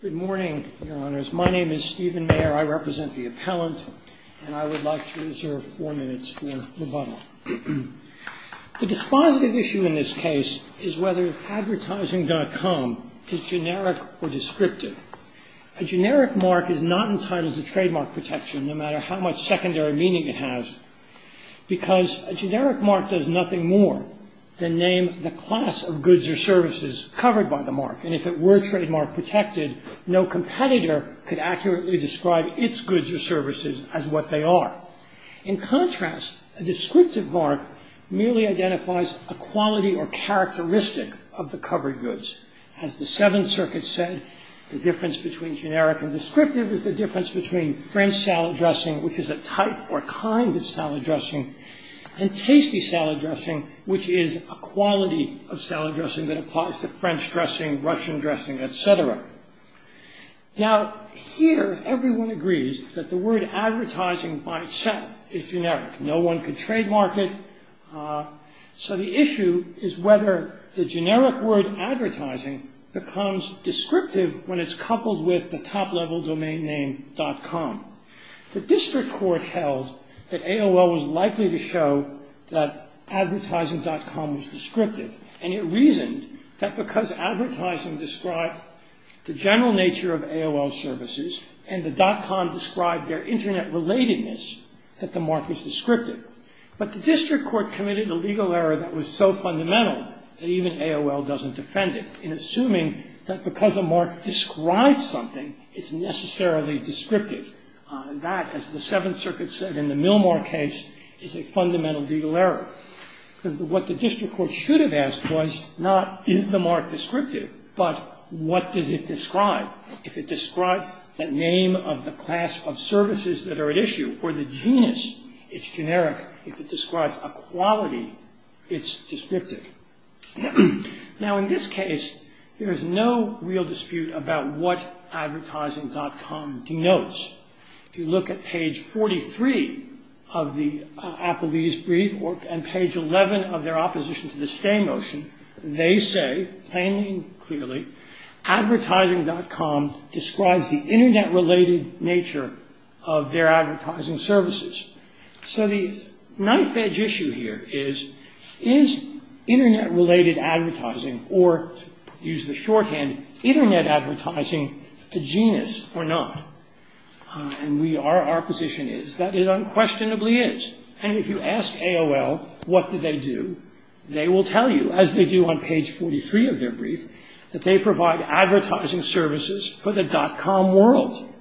Good morning, Your Honors. My name is Stephen Mayer. I represent the appellant, and I would like to reserve four minutes for rebuttal. The dispositive issue in this case is whether advertising.com is generic or descriptive. A generic mark is not entitled to trademark protection, no matter how much secondary meaning it has, because a generic mark does nothing more than name the class of goods or services covered by the mark. And if it were trademark protected, no competitor could accurately describe its goods or services as what they are. In contrast, a descriptive mark merely identifies a quality or characteristic of the covered goods. As the Seventh Circuit said, the difference between generic and descriptive is the difference between French salad dressing, which is a type or kind of salad dressing, and tasty salad dressing, which is a quality of salad dressing that applies to French dressing, Russian dressing, etc. Now, here everyone agrees that the word advertising by itself is generic. No one could trademark it. So the issue is whether the generic word advertising becomes descriptive when it's coupled with the top-level domain name .com. The district court held that AOL was likely to show that advertising.com was descriptive, and it reasoned that because advertising described the general nature of AOL services and the .com described their Internet relatedness, that the mark was descriptive. But the district court committed a legal error that was so fundamental that even AOL doesn't defend it in assuming that because a mark describes something, it's necessarily descriptive. That, as the Seventh Circuit said in the Milmore case, is a fundamental legal error. Because what the district court should have asked was not, is the mark descriptive, but what does it describe? If it describes the name of the class of services that are at issue or the genus, it's generic. Now, in this case, there is no real dispute about what advertising.com denotes. If you look at page 43 of the Applebee's brief and page 11 of their opposition to the stay motion, they say, plainly and clearly, advertising.com describes the Internet related nature of their advertising services. So the knife edge issue here is, is Internet related advertising, or to use the shorthand, Internet advertising, a genus or not? And our position is that it unquestionably is. And if you ask AOL what do they do, they will tell you, as they do on page 43 of their brief, that they provide advertising services for the .com world.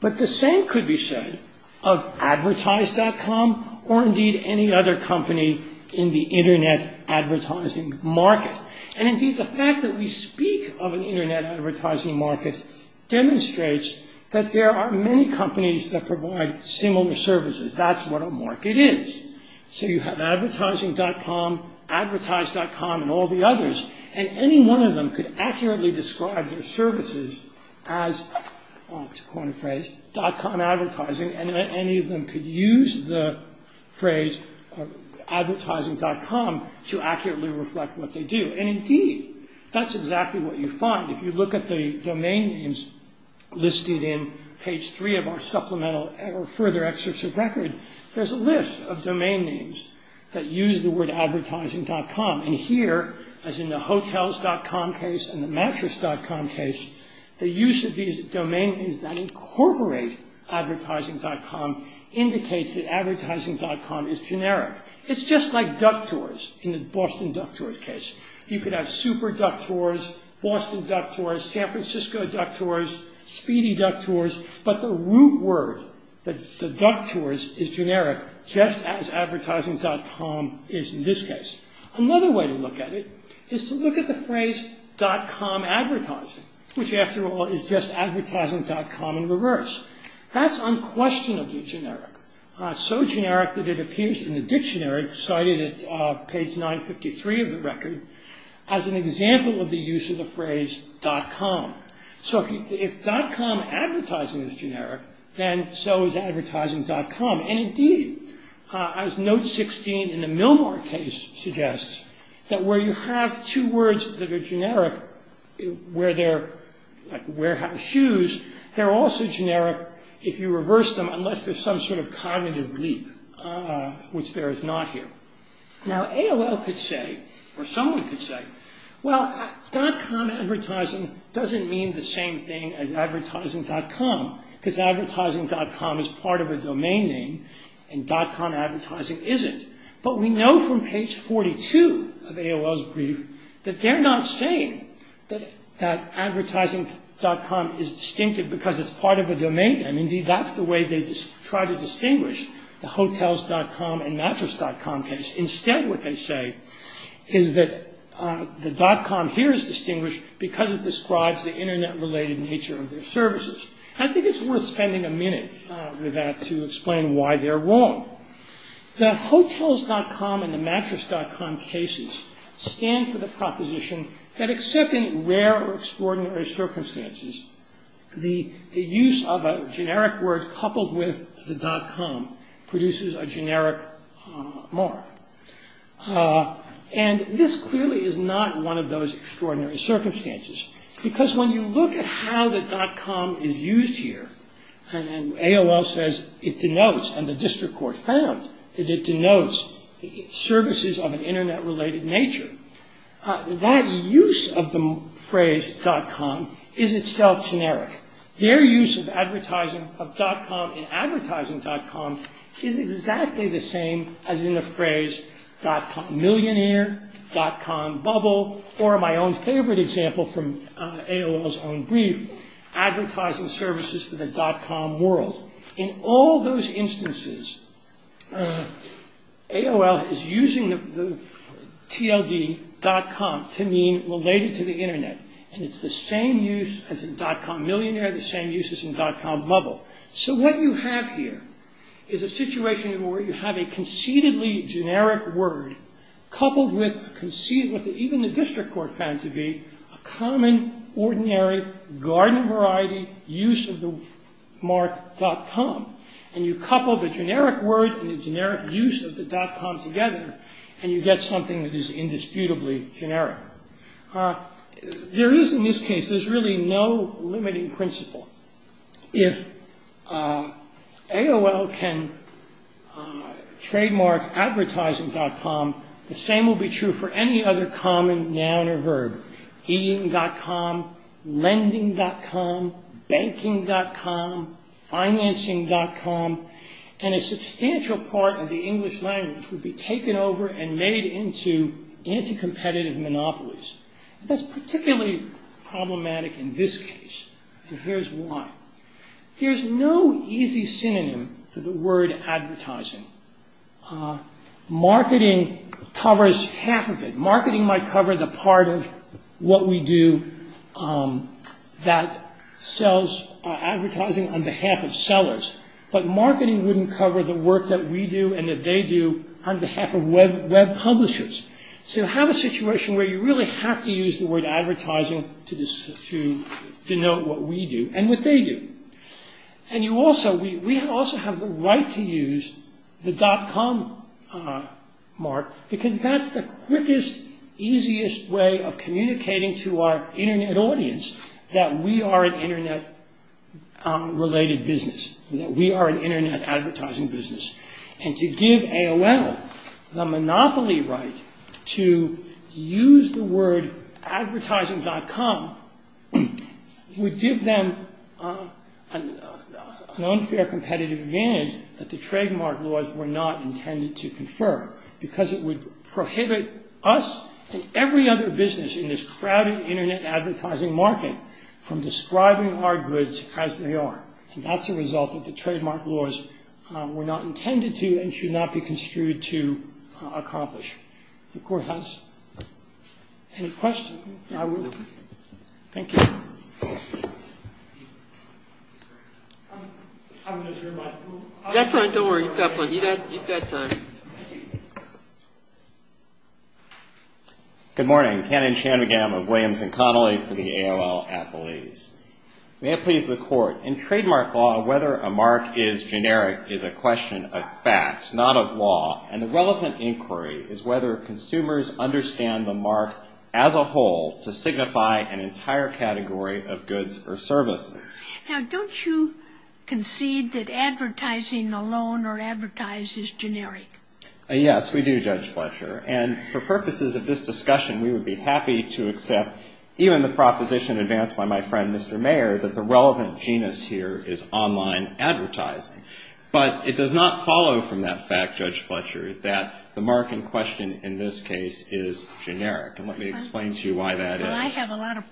But the same could be said of advertise.com or indeed any other company in the Internet advertising market. And indeed, the fact that we speak of an Internet advertising market demonstrates that there are many companies that provide similar services. That's what a market is. So you have advertising.com, advertise.com, and all the others, and any one of them could accurately describe their services as, to coin a phrase, .com advertising, and any of them could use the phrase advertising.com to accurately reflect what they do. And indeed, that's exactly what you find. If you look at the domain names listed in page 3 of our supplemental or further excerpts of record, there's a list of domain names that use the word advertising.com. And here, as in the hotels.com case and the mattress.com case, the use of these domain names that incorporate advertising.com indicates that advertising.com is generic. It's just like Duck Tours in the Boston Duck Tours case. You could have Super Duck Tours, Boston Duck Tours, San Francisco Duck Tours, Speedy Duck Tours, but the root word, the Duck Tours, is generic, just as advertising.com is in this case. Another way to look at it is to look at the phrase .com advertising, which, after all, is just advertising.com in reverse. That's unquestionably generic, so generic that it appears in the dictionary, cited at page 953 of the record, as an example of the use of the phrase .com. So if .com advertising is generic, then so is advertising.com. And indeed, as note 16 in the Milmore case suggests, that where you have two words that are generic, like warehouse shoes, they're also generic if you reverse them unless there's some sort of cognitive leap, which there is not here. Now, AOL could say, or someone could say, well, .com advertising doesn't mean the same thing as advertising.com, because advertising.com is part of a domain name, and .com advertising isn't. But we know from page 42 of AOL's brief that they're not saying that advertising.com is distinctive because it's part of a domain name. Indeed, that's the way they try to distinguish the hotels.com and mattress.com case. Instead, what they say is that the .com here is distinguished because it describes the internet-related nature of their services. I think it's worth spending a minute with that to explain why they're wrong. The hotels.com and the mattress.com cases stand for the proposition that except in rare or extraordinary circumstances, the use of a generic word coupled with the .com produces a generic mark. And this clearly is not one of those extraordinary circumstances, because when you look at how the .com is used here, and AOL says it denotes, and the district court found, that it denotes services of an internet-related nature, that use of the phrase .com is itself generic. Their use of .com in advertising.com is exactly the same as in the phrase millionaire, .com bubble, or my own favorite example from AOL's own brief, advertising services for the .com world. In all those instances, AOL is using the TLD .com to mean related to the internet, and it's the same use as in .com millionaire, the same use as in .com bubble. So what you have here is a situation where you have a conceitedly generic word coupled with what even the district court found to be a common, ordinary, garden-variety use of the mark .com. And you couple the generic word and the generic use of the .com together, and you get something that is indisputably generic. There is, in this case, there's really no limiting principle. If AOL can trademark advertising.com, the same will be true for any other common noun or verb. Eating.com, lending.com, banking.com, financing.com, and a substantial part of the English language would be taken over and made into anti-competitive monopolies. That's particularly problematic in this case, and here's why. There's no easy synonym for the word advertising. Marketing covers half of it. Marketing might cover the part of what we do that sells advertising on behalf of sellers, but marketing wouldn't cover the work that we do and that they do on behalf of web publishers. So you have a situation where you really have to use the word advertising to denote what we do and what they do. And we also have the right to use the .com mark because that's the quickest, easiest way of communicating to our Internet audience that we are an Internet-related business, that we are an Internet advertising business. And to give AOL the monopoly right to use the word advertising.com would give them an unfair competitive advantage that the trademark laws were not intended to confer because it would prohibit us and every other business in this crowded Internet advertising market from describing our goods as they are. And that's a result that the trademark laws were not intended to and should not be construed to accomplish. If the Court has any questions, I will. Thank you. I'm going to turn my phone off. That's all right. Don't worry. You've got time. Good morning. Ken and Shannon McGammon of Williams & Connolly for the AOL athletes. May it please the Court. In trademark law, whether a mark is generic is a question of fact, not of law. And the relevant inquiry is whether consumers understand the mark as a whole to signify an entire category of goods or services. Now, don't you concede that advertising alone or advertised is generic? Yes, we do, Judge Fletcher. And for purposes of this discussion, we would be happy to accept even the proposition advanced by my friend, Mr. Mayer, that the relevant genus here is online advertising. But it does not follow from that fact, Judge Fletcher, that the mark in question in this case is generic. And let me explain to you why that is. Well, I have a lot of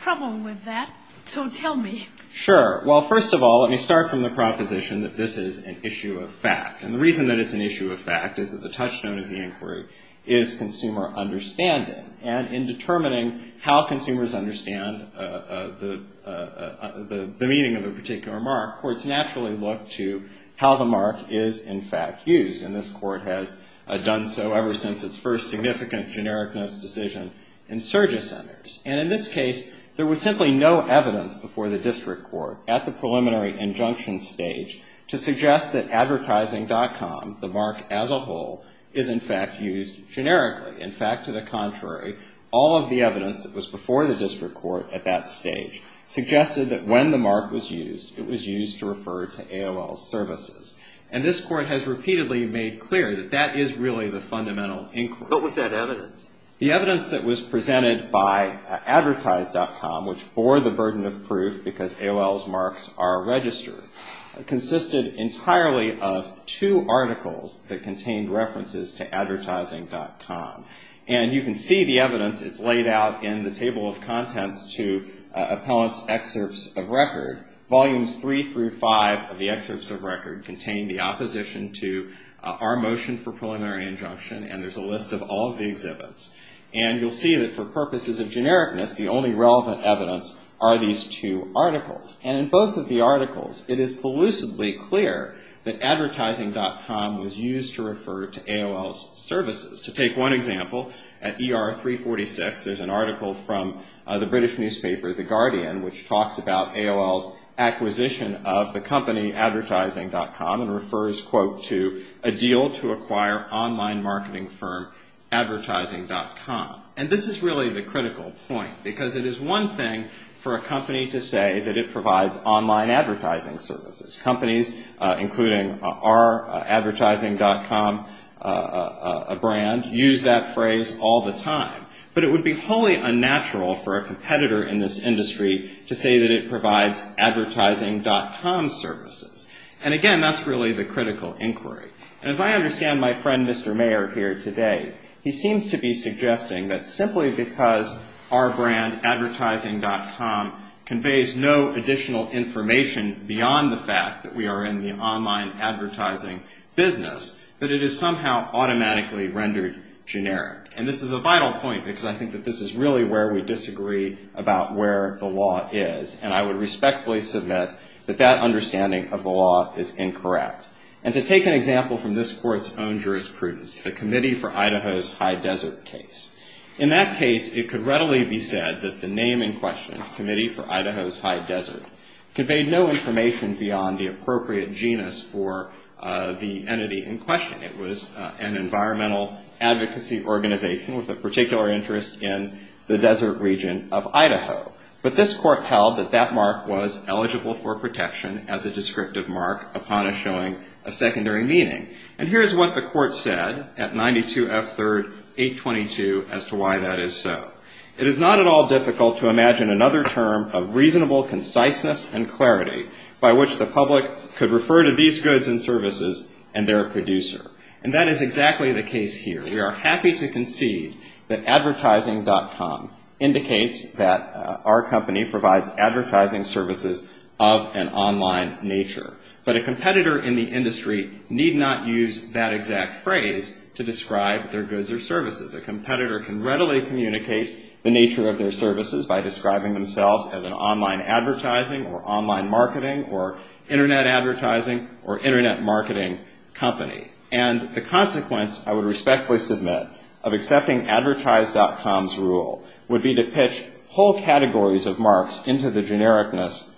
trouble with that, so tell me. Sure. Well, first of all, let me start from the proposition that this is an issue of fact. And the reason that it's an issue of fact is that the touchstone of the inquiry is consumer understanding. And in determining how consumers understand the meaning of a particular mark, courts naturally look to how the mark is, in fact, used. And this Court has done so ever since its first significant genericness decision in Surgesonners. And in this case, there was simply no evidence before the district court at the preliminary injunction stage to suggest that advertising.com, the mark as a whole, is, in fact, used generically. In fact, to the contrary, all of the evidence that was before the district court at that stage suggested that when the mark was used, it was used to refer to AOL's services. And this Court has repeatedly made clear that that is really the fundamental inquiry. What was that evidence? The evidence that was presented by advertise.com, which bore the burden of proof because AOL's marks are registered, consisted entirely of two articles that contained references to advertising.com. And you can see the evidence. It's laid out in the table of contents to appellants' excerpts of record. Volumes 3 through 5 of the excerpts of record contain the opposition to our motion for preliminary injunction, and there's a list of all of the exhibits. And you'll see that for purposes of genericness, the only relevant evidence are these two articles. And in both of the articles, it is elusively clear that advertising.com was used to refer to AOL's services. To take one example, at ER 346, there's an article from the British newspaper, The Guardian, which talks about AOL's acquisition of the company advertising.com and refers, quote, to a deal to acquire online marketing firm advertising.com. And this is really the critical point, because it is one thing for a company to say that it provides online advertising services. Companies, including our advertising.com brand, use that phrase all the time. But it would be wholly unnatural for a competitor in this industry to say that it provides advertising.com services. And, again, that's really the critical inquiry. And as I understand my friend, Mr. Mayer, here today, he seems to be suggesting that simply because our brand, advertising.com, conveys no additional information beyond the fact that we are in the online advertising business, that it is somehow automatically rendered generic. And this is a vital point, because I think that this is really where we disagree about where the law is. And I would respectfully submit that that understanding of the law is incorrect. And to take an example from this Court's own jurisprudence, the Committee for Idaho's High Desert case. In that case, it could readily be said that the name in question, Committee for Idaho's High Desert, conveyed no information beyond the appropriate genus for the entity in question. It was an environmental advocacy organization with a particular interest in the desert region of Idaho. But this Court held that that mark was eligible for protection as a descriptive mark upon showing a secondary meaning. And here is what the Court said at 92 F. 3rd 822 as to why that is so. It is not at all difficult to imagine another term of reasonable conciseness and clarity by which the public could refer to these goods and services and their producer. And that is exactly the case here. We are happy to concede that advertising.com indicates that our company provides advertising services of an online nature. But a competitor in the industry need not use that exact phrase to describe their goods or services. A competitor can readily communicate the nature of their services by describing themselves as an online advertising or online marketing or Internet advertising or Internet marketing company. And the consequence, I would respectfully submit, of accepting advertise.com's rule would be to pitch whole categories of marks into the genericness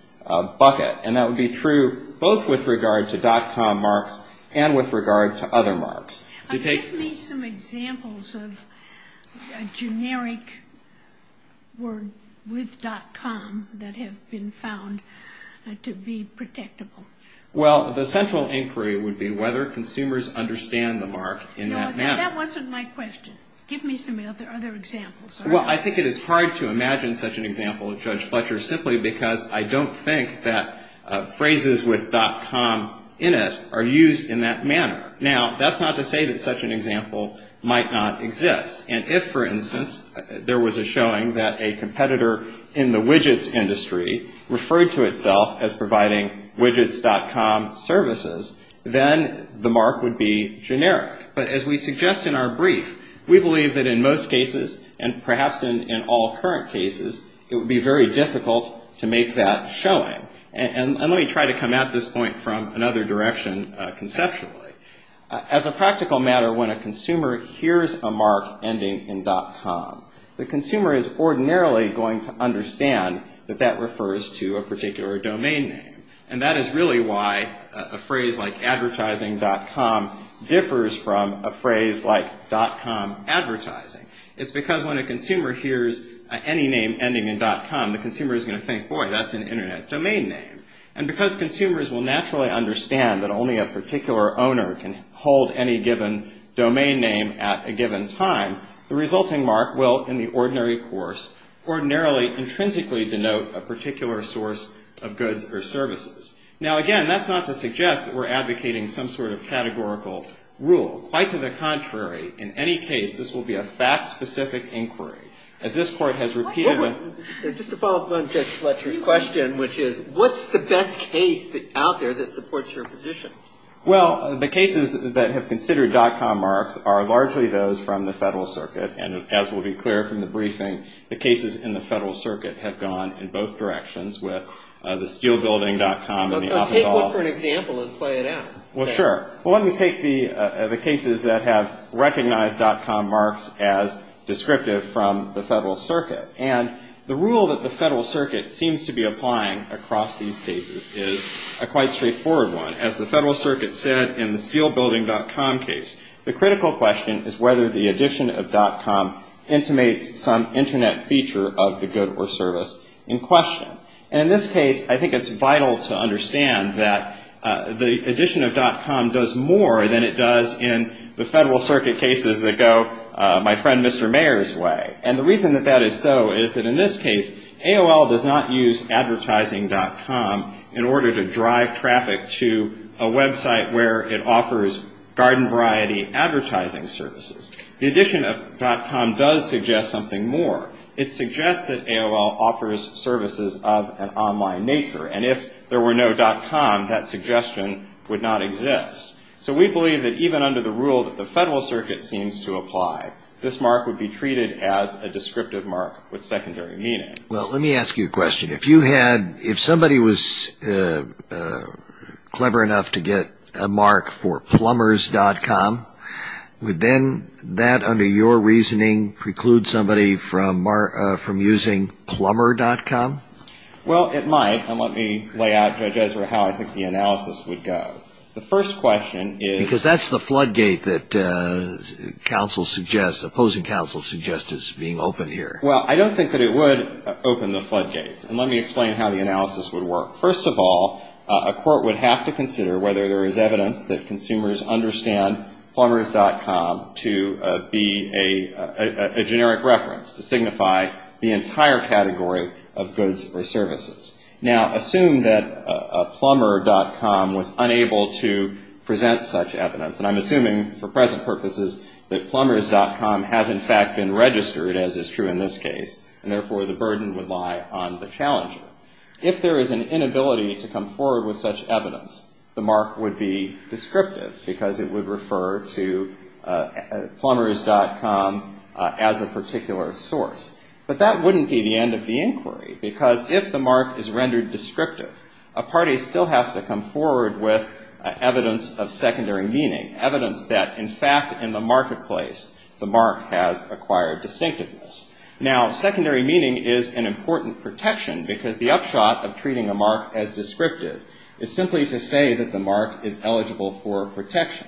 bucket. And that would be true both with regard to .com marks and with regard to other marks. Can you give me some examples of generic word with .com that have been found to be protectable? Well, the central inquiry would be whether consumers understand the mark in that manner. That wasn't my question. Give me some other examples. Well, I think it is hard to imagine such an example of Judge Fletcher simply because I don't think that phrases with .com in it are used in that manner. Now, that's not to say that such an example might not exist. And if, for instance, there was a showing that a competitor in the widgets industry referred to itself as providing widgets.com services, then the mark would be generic. But as we suggest in our brief, we believe that in most cases, and perhaps in all current cases, it would be very difficult to make that showing. And let me try to come at this point from another direction conceptually. As a practical matter, when a consumer hears a mark ending in .com, the consumer is ordinarily going to understand that that refers to a particular domain name. And that is really why a phrase like advertising.com differs from a phrase like .com advertising. It's because when a consumer hears any name ending in .com, the consumer is going to think, boy, that's an Internet domain name. And because consumers will naturally understand that only a particular owner can hold any given domain name at a given time, the resulting mark will, in the ordinary course, ordinarily, intrinsically, denote a particular source of goods or services. Now, again, that's not to suggest that we're advocating some sort of categorical rule. Quite to the contrary, in any case, this will be a fact-specific inquiry. As this Court has repeatedly... Just to follow up on Judge Fletcher's question, which is, what's the best case out there that supports your position? Well, the cases that have considered .com marks are largely those from the Federal Circuit. And as will be clear from the briefing, the cases in the Federal Circuit have gone in both directions with the steelbuilding.com and the... Take one for an example and play it out. Well, sure. Well, let me take the cases that have recognized .com marks as descriptive from the Federal Circuit. And the rule that the Federal Circuit seems to be applying across these cases is a quite straightforward one. As the Federal Circuit said in the steelbuilding.com case, the critical question is whether the addition of .com intimates some Internet feature of the good or service in question. And in this case, I think it's vital to understand that the addition of .com does more than it does in the Federal Circuit cases that go my friend Mr. Mayer's way. And the reason that that is so is that in this case, AOL does not use advertising.com in order to drive traffic to a website where it offers garden variety advertising services. The addition of .com does suggest something more. It suggests that AOL offers services of an online nature. And if there were no .com, that suggestion would not exist. So we believe that even under the rule that the Federal Circuit seems to apply, this mark would be treated as a descriptive mark with secondary meaning. Well, let me ask you a question. If somebody was clever enough to get a mark for plumbers.com, would then that under your reasoning preclude somebody from using plumber.com? Well, it might. And let me lay out, Judge Ezra, how I think the analysis would go. The first question is. Because that's the floodgate that counsel suggests, opposing counsel suggests is being opened here. Well, I don't think that it would open the floodgates. And let me explain how the analysis would work. First of all, a court would have to consider whether there is evidence that consumers understand plumbers.com to be a generic reference, to signify the entire category of goods or services. Now, assume that plumber.com was unable to present such evidence. And I'm assuming for present purposes that plumbers.com has in fact been registered, as is true in this case, and therefore the burden would lie on the challenger. If there is an inability to come forward with such evidence, the mark would be descriptive because it would refer to plumbers.com as a particular source. But that wouldn't be the end of the inquiry. Because if the mark is rendered descriptive, a party still has to come forward with evidence of secondary meaning, evidence that in fact in the marketplace the mark has acquired distinctiveness. Now, secondary meaning is an important protection because the upshot of treating a mark as descriptive is simply to say that the mark is eligible for protection.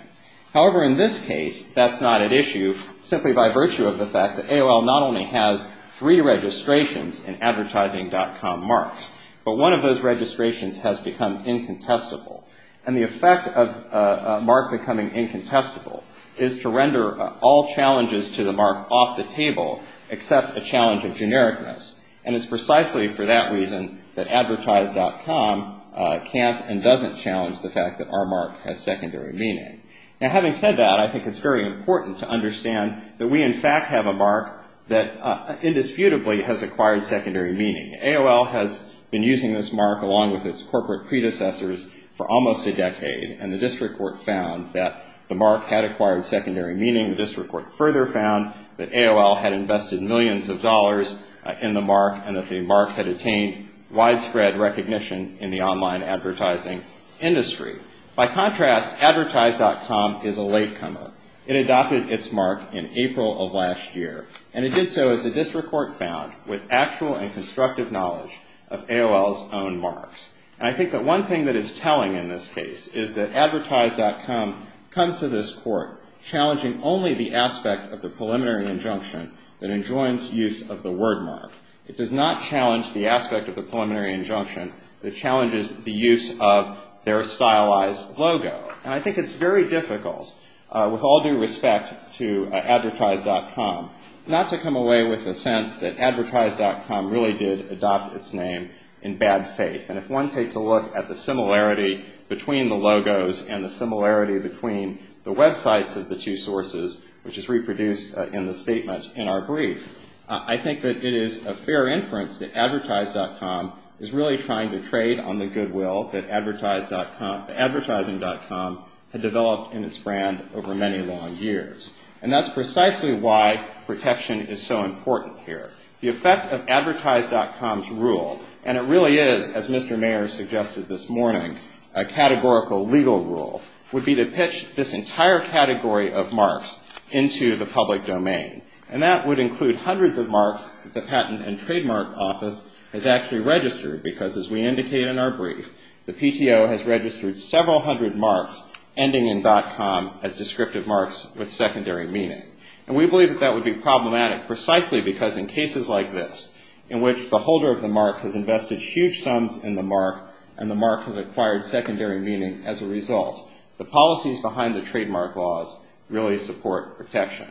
However, in this case, that's not at issue simply by virtue of the fact that AOL not only has three registrations in advertising.com marks, but one of those registrations has become incontestable. And the effect of a mark becoming incontestable is to render all challenges to the mark off the table, except a challenge of genericness. And it's precisely for that reason that advertise.com can't and doesn't challenge the fact that our mark has secondary meaning. Now, having said that, I think it's very important to understand that we in fact have a mark that indisputably has acquired secondary meaning. AOL has been using this mark along with its corporate predecessors for almost a decade. And the district court found that the mark had acquired secondary meaning. The district court further found that AOL had invested millions of dollars in the mark and that the mark had attained widespread recognition in the online advertising industry. By contrast, advertise.com is a latecomer. It adopted its mark in April of last year. And it did so, as the district court found, with actual and constructive knowledge of AOL's own marks. And I think that one thing that is telling in this case is that advertise.com comes to this court challenging only the aspect of the preliminary injunction that enjoins use of the word mark. It does not challenge the aspect of the preliminary injunction that challenges the use of their stylized logo. And I think it's very difficult, with all due respect to advertise.com, not to come away with a sense that advertise.com really did adopt its name in bad faith. And if one takes a look at the similarity between the logos and the similarity between the websites of the two sources, which is reproduced in the statement in our brief, I think that it is a fair inference that advertise.com is really trying to trade on the goodwill that advertising.com had developed in its brand over many long years. And that's precisely why protection is so important here. The effect of advertise.com's rule, and it really is, as Mr. Mayer suggested this morning, a categorical legal rule, would be to pitch this entire category of marks into the public domain. And that would include hundreds of marks that the Patent and Trademark Office has actually registered because, as we indicated in our brief, the PTO has registered several hundred marks ending in .com as descriptive marks with secondary meaning. And we believe that that would be problematic precisely because in cases like this, in which the holder of the mark has invested huge sums in the mark, and the mark has acquired secondary meaning as a result, the policies behind the trademark laws really support protection.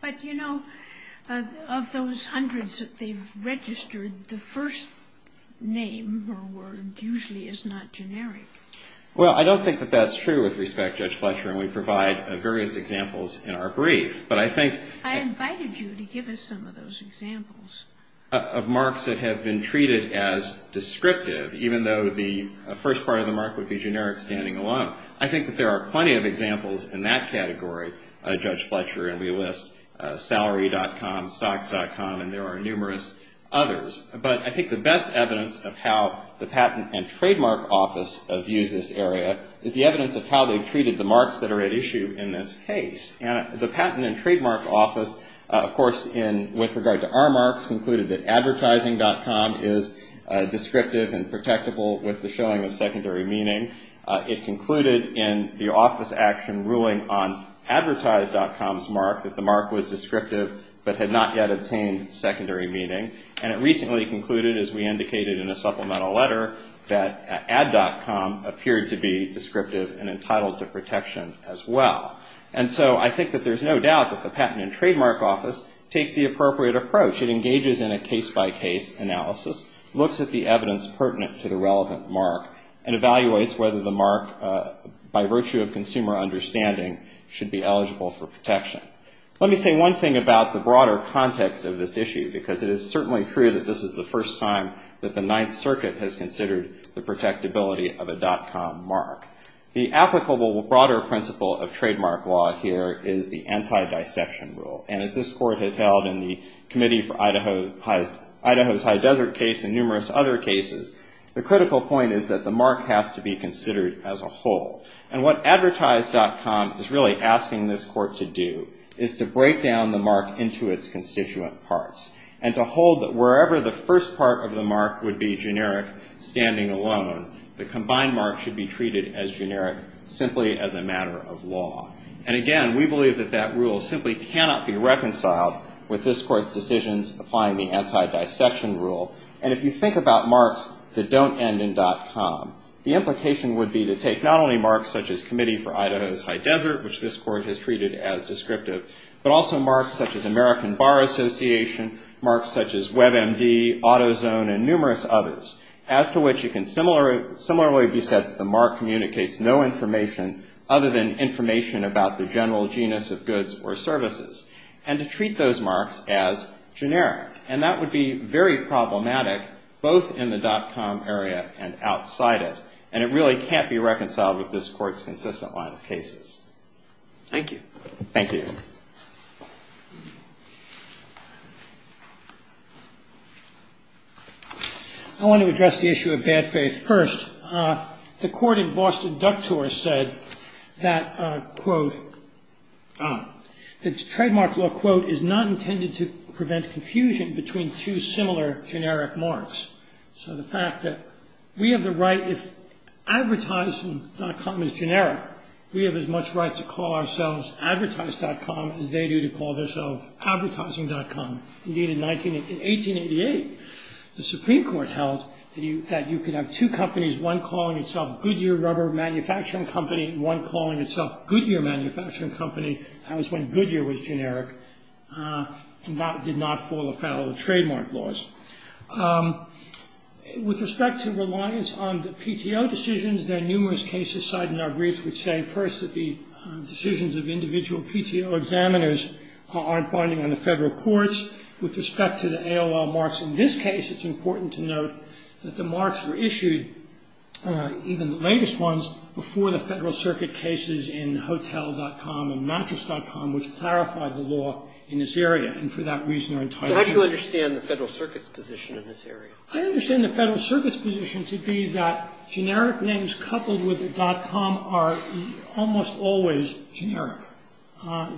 But, you know, of those hundreds that they've registered, the first name or word usually is not generic. Well, I don't think that that's true with respect, Judge Fletcher, and we provide various examples in our brief. But I think... I invited you to give us some of those examples. ...of marks that have been treated as descriptive, even though the first part of the mark would be generic standing alone. I think that there are plenty of examples in that category, Judge Fletcher, and we list salary.com, stocks.com, and there are numerous others. But I think the best evidence of how the Patent and Trademark Office views this area is the evidence of how they've treated the marks that are at issue in this case. And the Patent and Trademark Office, of course, with regard to our marks, concluded that advertising.com is descriptive and protectable with the showing of secondary meaning. It concluded in the office action ruling on advertise.com's mark that the mark was descriptive but had not yet obtained secondary meaning. And it recently concluded, as we indicated in a supplemental letter, that add.com appeared to be descriptive and entitled to protection as well. And so I think that there's no doubt that the Patent and Trademark Office takes the appropriate approach. It engages in a case-by-case analysis, looks at the evidence pertinent to the relevant mark, and evaluates whether the mark, by virtue of consumer understanding, should be eligible for protection. Let me say one thing about the broader context of this issue because it is certainly true that this is the first time that the Ninth Circuit has considered the protectability of a .com mark. The applicable broader principle of trademark law here is the anti-dissection rule. And as this Court has held in the Committee for Idaho's High Desert case and numerous other cases, the critical point is that the mark has to be considered as a whole. And what advertise.com is really asking this Court to do is to break down the mark into its constituent parts and to hold that wherever the first part of the mark would be generic, standing alone, the combined mark should be treated as generic simply as a matter of law. And again, we believe that that rule simply cannot be reconciled with this Court's decisions applying the anti-dissection rule. And if you think about marks that don't end in .com, the implication would be to take not only marks such as Committee for Idaho's High Desert, which this Court has treated as descriptive, but also marks such as American Bar Association, marks such as WebMD, AutoZone, and numerous others, as to which it can similarly be said that the mark communicates no information other than information about the general genus of goods or services, and to treat those marks as generic. And that would be very problematic both in the .com area and outside it, and it really can't be reconciled with this Court's consistent line of cases. Thank you. Thank you. I want to address the issue of bad faith first. The Court in Boston Ductor said that, quote, the trademark law, quote, is not intended to prevent confusion between two similar generic marks. So the fact that we have the right, if advertising.com is generic, we have as much right to call ourselves advertise.com as they do to call themselves advertising.com. Indeed, in 1888, the Supreme Court held that you could have two companies, one calling itself Goodyear Rubber Manufacturing Company, and one calling itself Goodyear Manufacturing Company. That was when Goodyear was generic. That did not fall afoul of the trademark laws. With respect to reliance on the PTO decisions, that the decisions of individual PTO examiners aren't binding on the federal courts. With respect to the AOL marks in this case, it's important to note that the marks were issued, even the latest ones, before the Federal Circuit cases in hotel.com and mattress.com, which clarified the law in this area, and for that reason are entitled. So how do you understand the Federal Circuit's position in this area? I understand the Federal Circuit's position to be that generic names coupled with .com are almost always generic.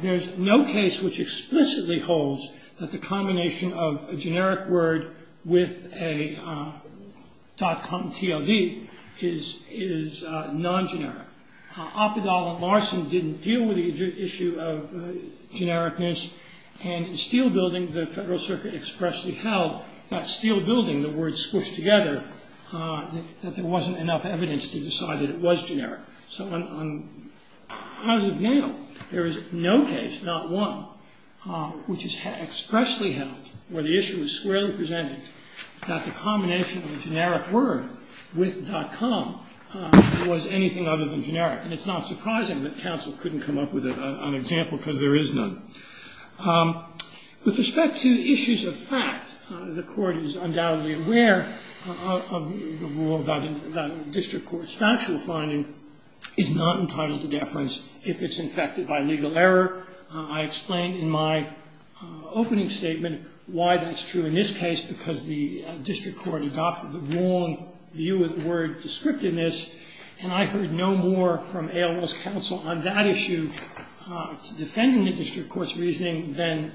There's no case which explicitly holds that the combination of a generic word with a .com TLD is non-generic. Opperdahl and Larson didn't deal with the issue of genericness, and in steel building, the Federal Circuit expressly held that steel building, the words squished together, that there wasn't enough evidence to decide that it was generic. So as of now, there is no case, not one, which is expressly held where the issue is squarely presented that the combination of a generic word with .com was anything other than generic. And it's not surprising that counsel couldn't come up with an example because there is none. With respect to issues of fact, the Court is undoubtedly aware of the rule that a district court's factual finding is not entitled to deference if it's infected by legal error. I explained in my opening statement why that's true in this case, because the district court adopted the wrong view of the word descriptiveness, and I heard no more from AOL's counsel on that issue, defending the district court's reasoning than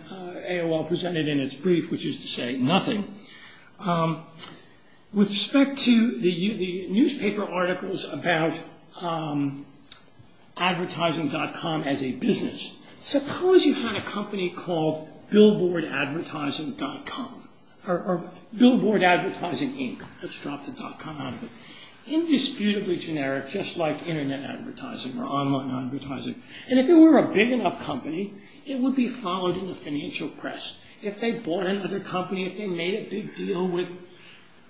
AOL presented in its brief, which is to say nothing. With respect to the newspaper articles about advertising .com as a business, suppose you had a company called Billboard Advertising .com, or Billboard Advertising Inc. Let's drop the .com out of it. Indisputably generic, just like internet advertising or online advertising. And if it were a big enough company, it would be followed in the financial press. If they bought another company, if they made a big deal with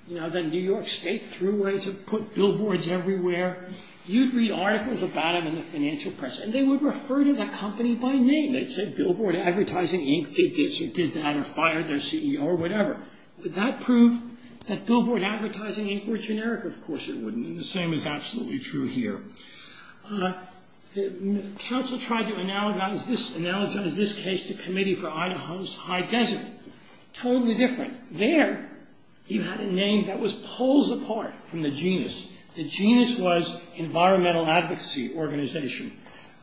the New York State Thruway to put billboards everywhere, you'd read articles about them in the financial press, and they would refer to that company by name. They'd say Billboard Advertising Inc. did this or did that or fired their CEO or whatever. Would that prove that Billboard Advertising Inc. were generic? Of course it wouldn't, and the same is absolutely true here. Counsel tried to analogize this case to Committee for Idaho's High Desert. Totally different. There, you had a name that was poles apart from the genus. The genus was Environmental Advocacy Organization,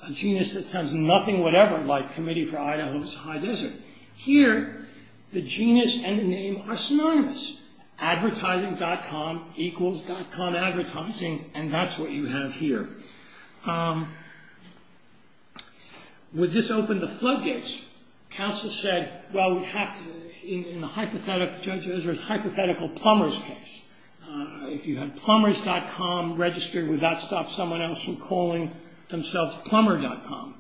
a genus that sounds nothing whatever like Committee for Idaho's High Desert. Here, the genus and the name are synonymous. Advertising.com equals .com advertising, and that's what you have here. Would this open the floodgates? Counsel said, well, we'd have to, in the hypothetical Plumbers case, if you had Plumbers.com registered, would that stop someone else from calling themselves Plumber.com?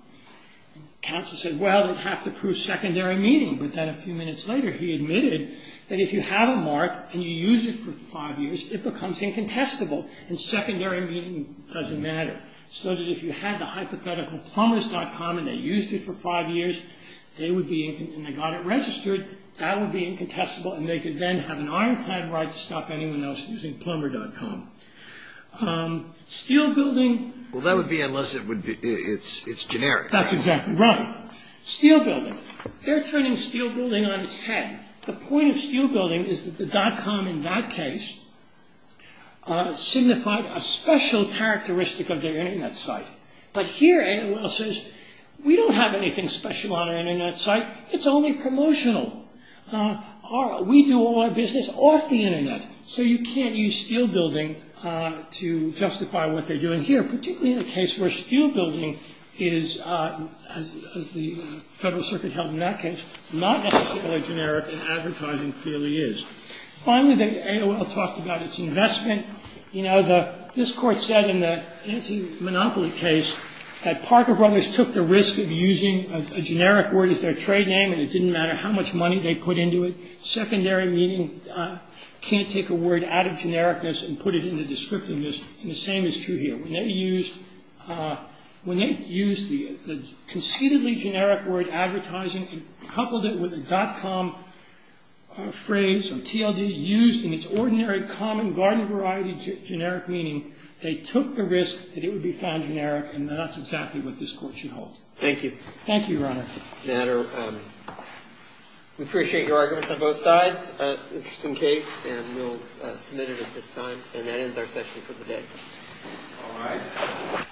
Counsel said, well, it'd have to prove secondary meaning, but then a few minutes later he admitted that if you have a mark and you use it for five years, it becomes incontestable, and secondary meaning doesn't matter. So that if you had the hypothetical Plumbers.com and they used it for five years, and they got it registered, that would be incontestable, and they could then have an ironclad right to stop anyone else using Plumber.com. Steel building. Well, that would be unless it's generic. That's exactly right. Steel building. They're turning steel building on its head. The point of steel building is that the .com in that case signified a special characteristic of their Internet site. But here, AOL says, we don't have anything special on our Internet site. It's only promotional. We do all our business off the Internet, so you can't use steel building to justify what they're doing here, particularly in a case where steel building is, as the Federal Circuit held in that case, not necessarily generic and advertising clearly is. Finally, the AOL talked about its investment. You know, this Court said in the anti-monopoly case that Parker Brothers took the risk of using a generic word as their trade name, and it didn't matter how much money they put into it. The secondary meaning can't take a word out of genericness and put it into descriptiveness, and the same is true here. When they used the conceitedly generic word advertising and coupled it with a .com phrase or TLD used in its ordinary, common, garden-of-variety generic meaning, they took the risk that it would be found generic, and that's exactly what this Court should hold. Thank you. Thank you, Your Honor. We appreciate your arguments on both sides. Interesting case, and we'll submit it at this time. And that ends our session for today. All rise. Thank you.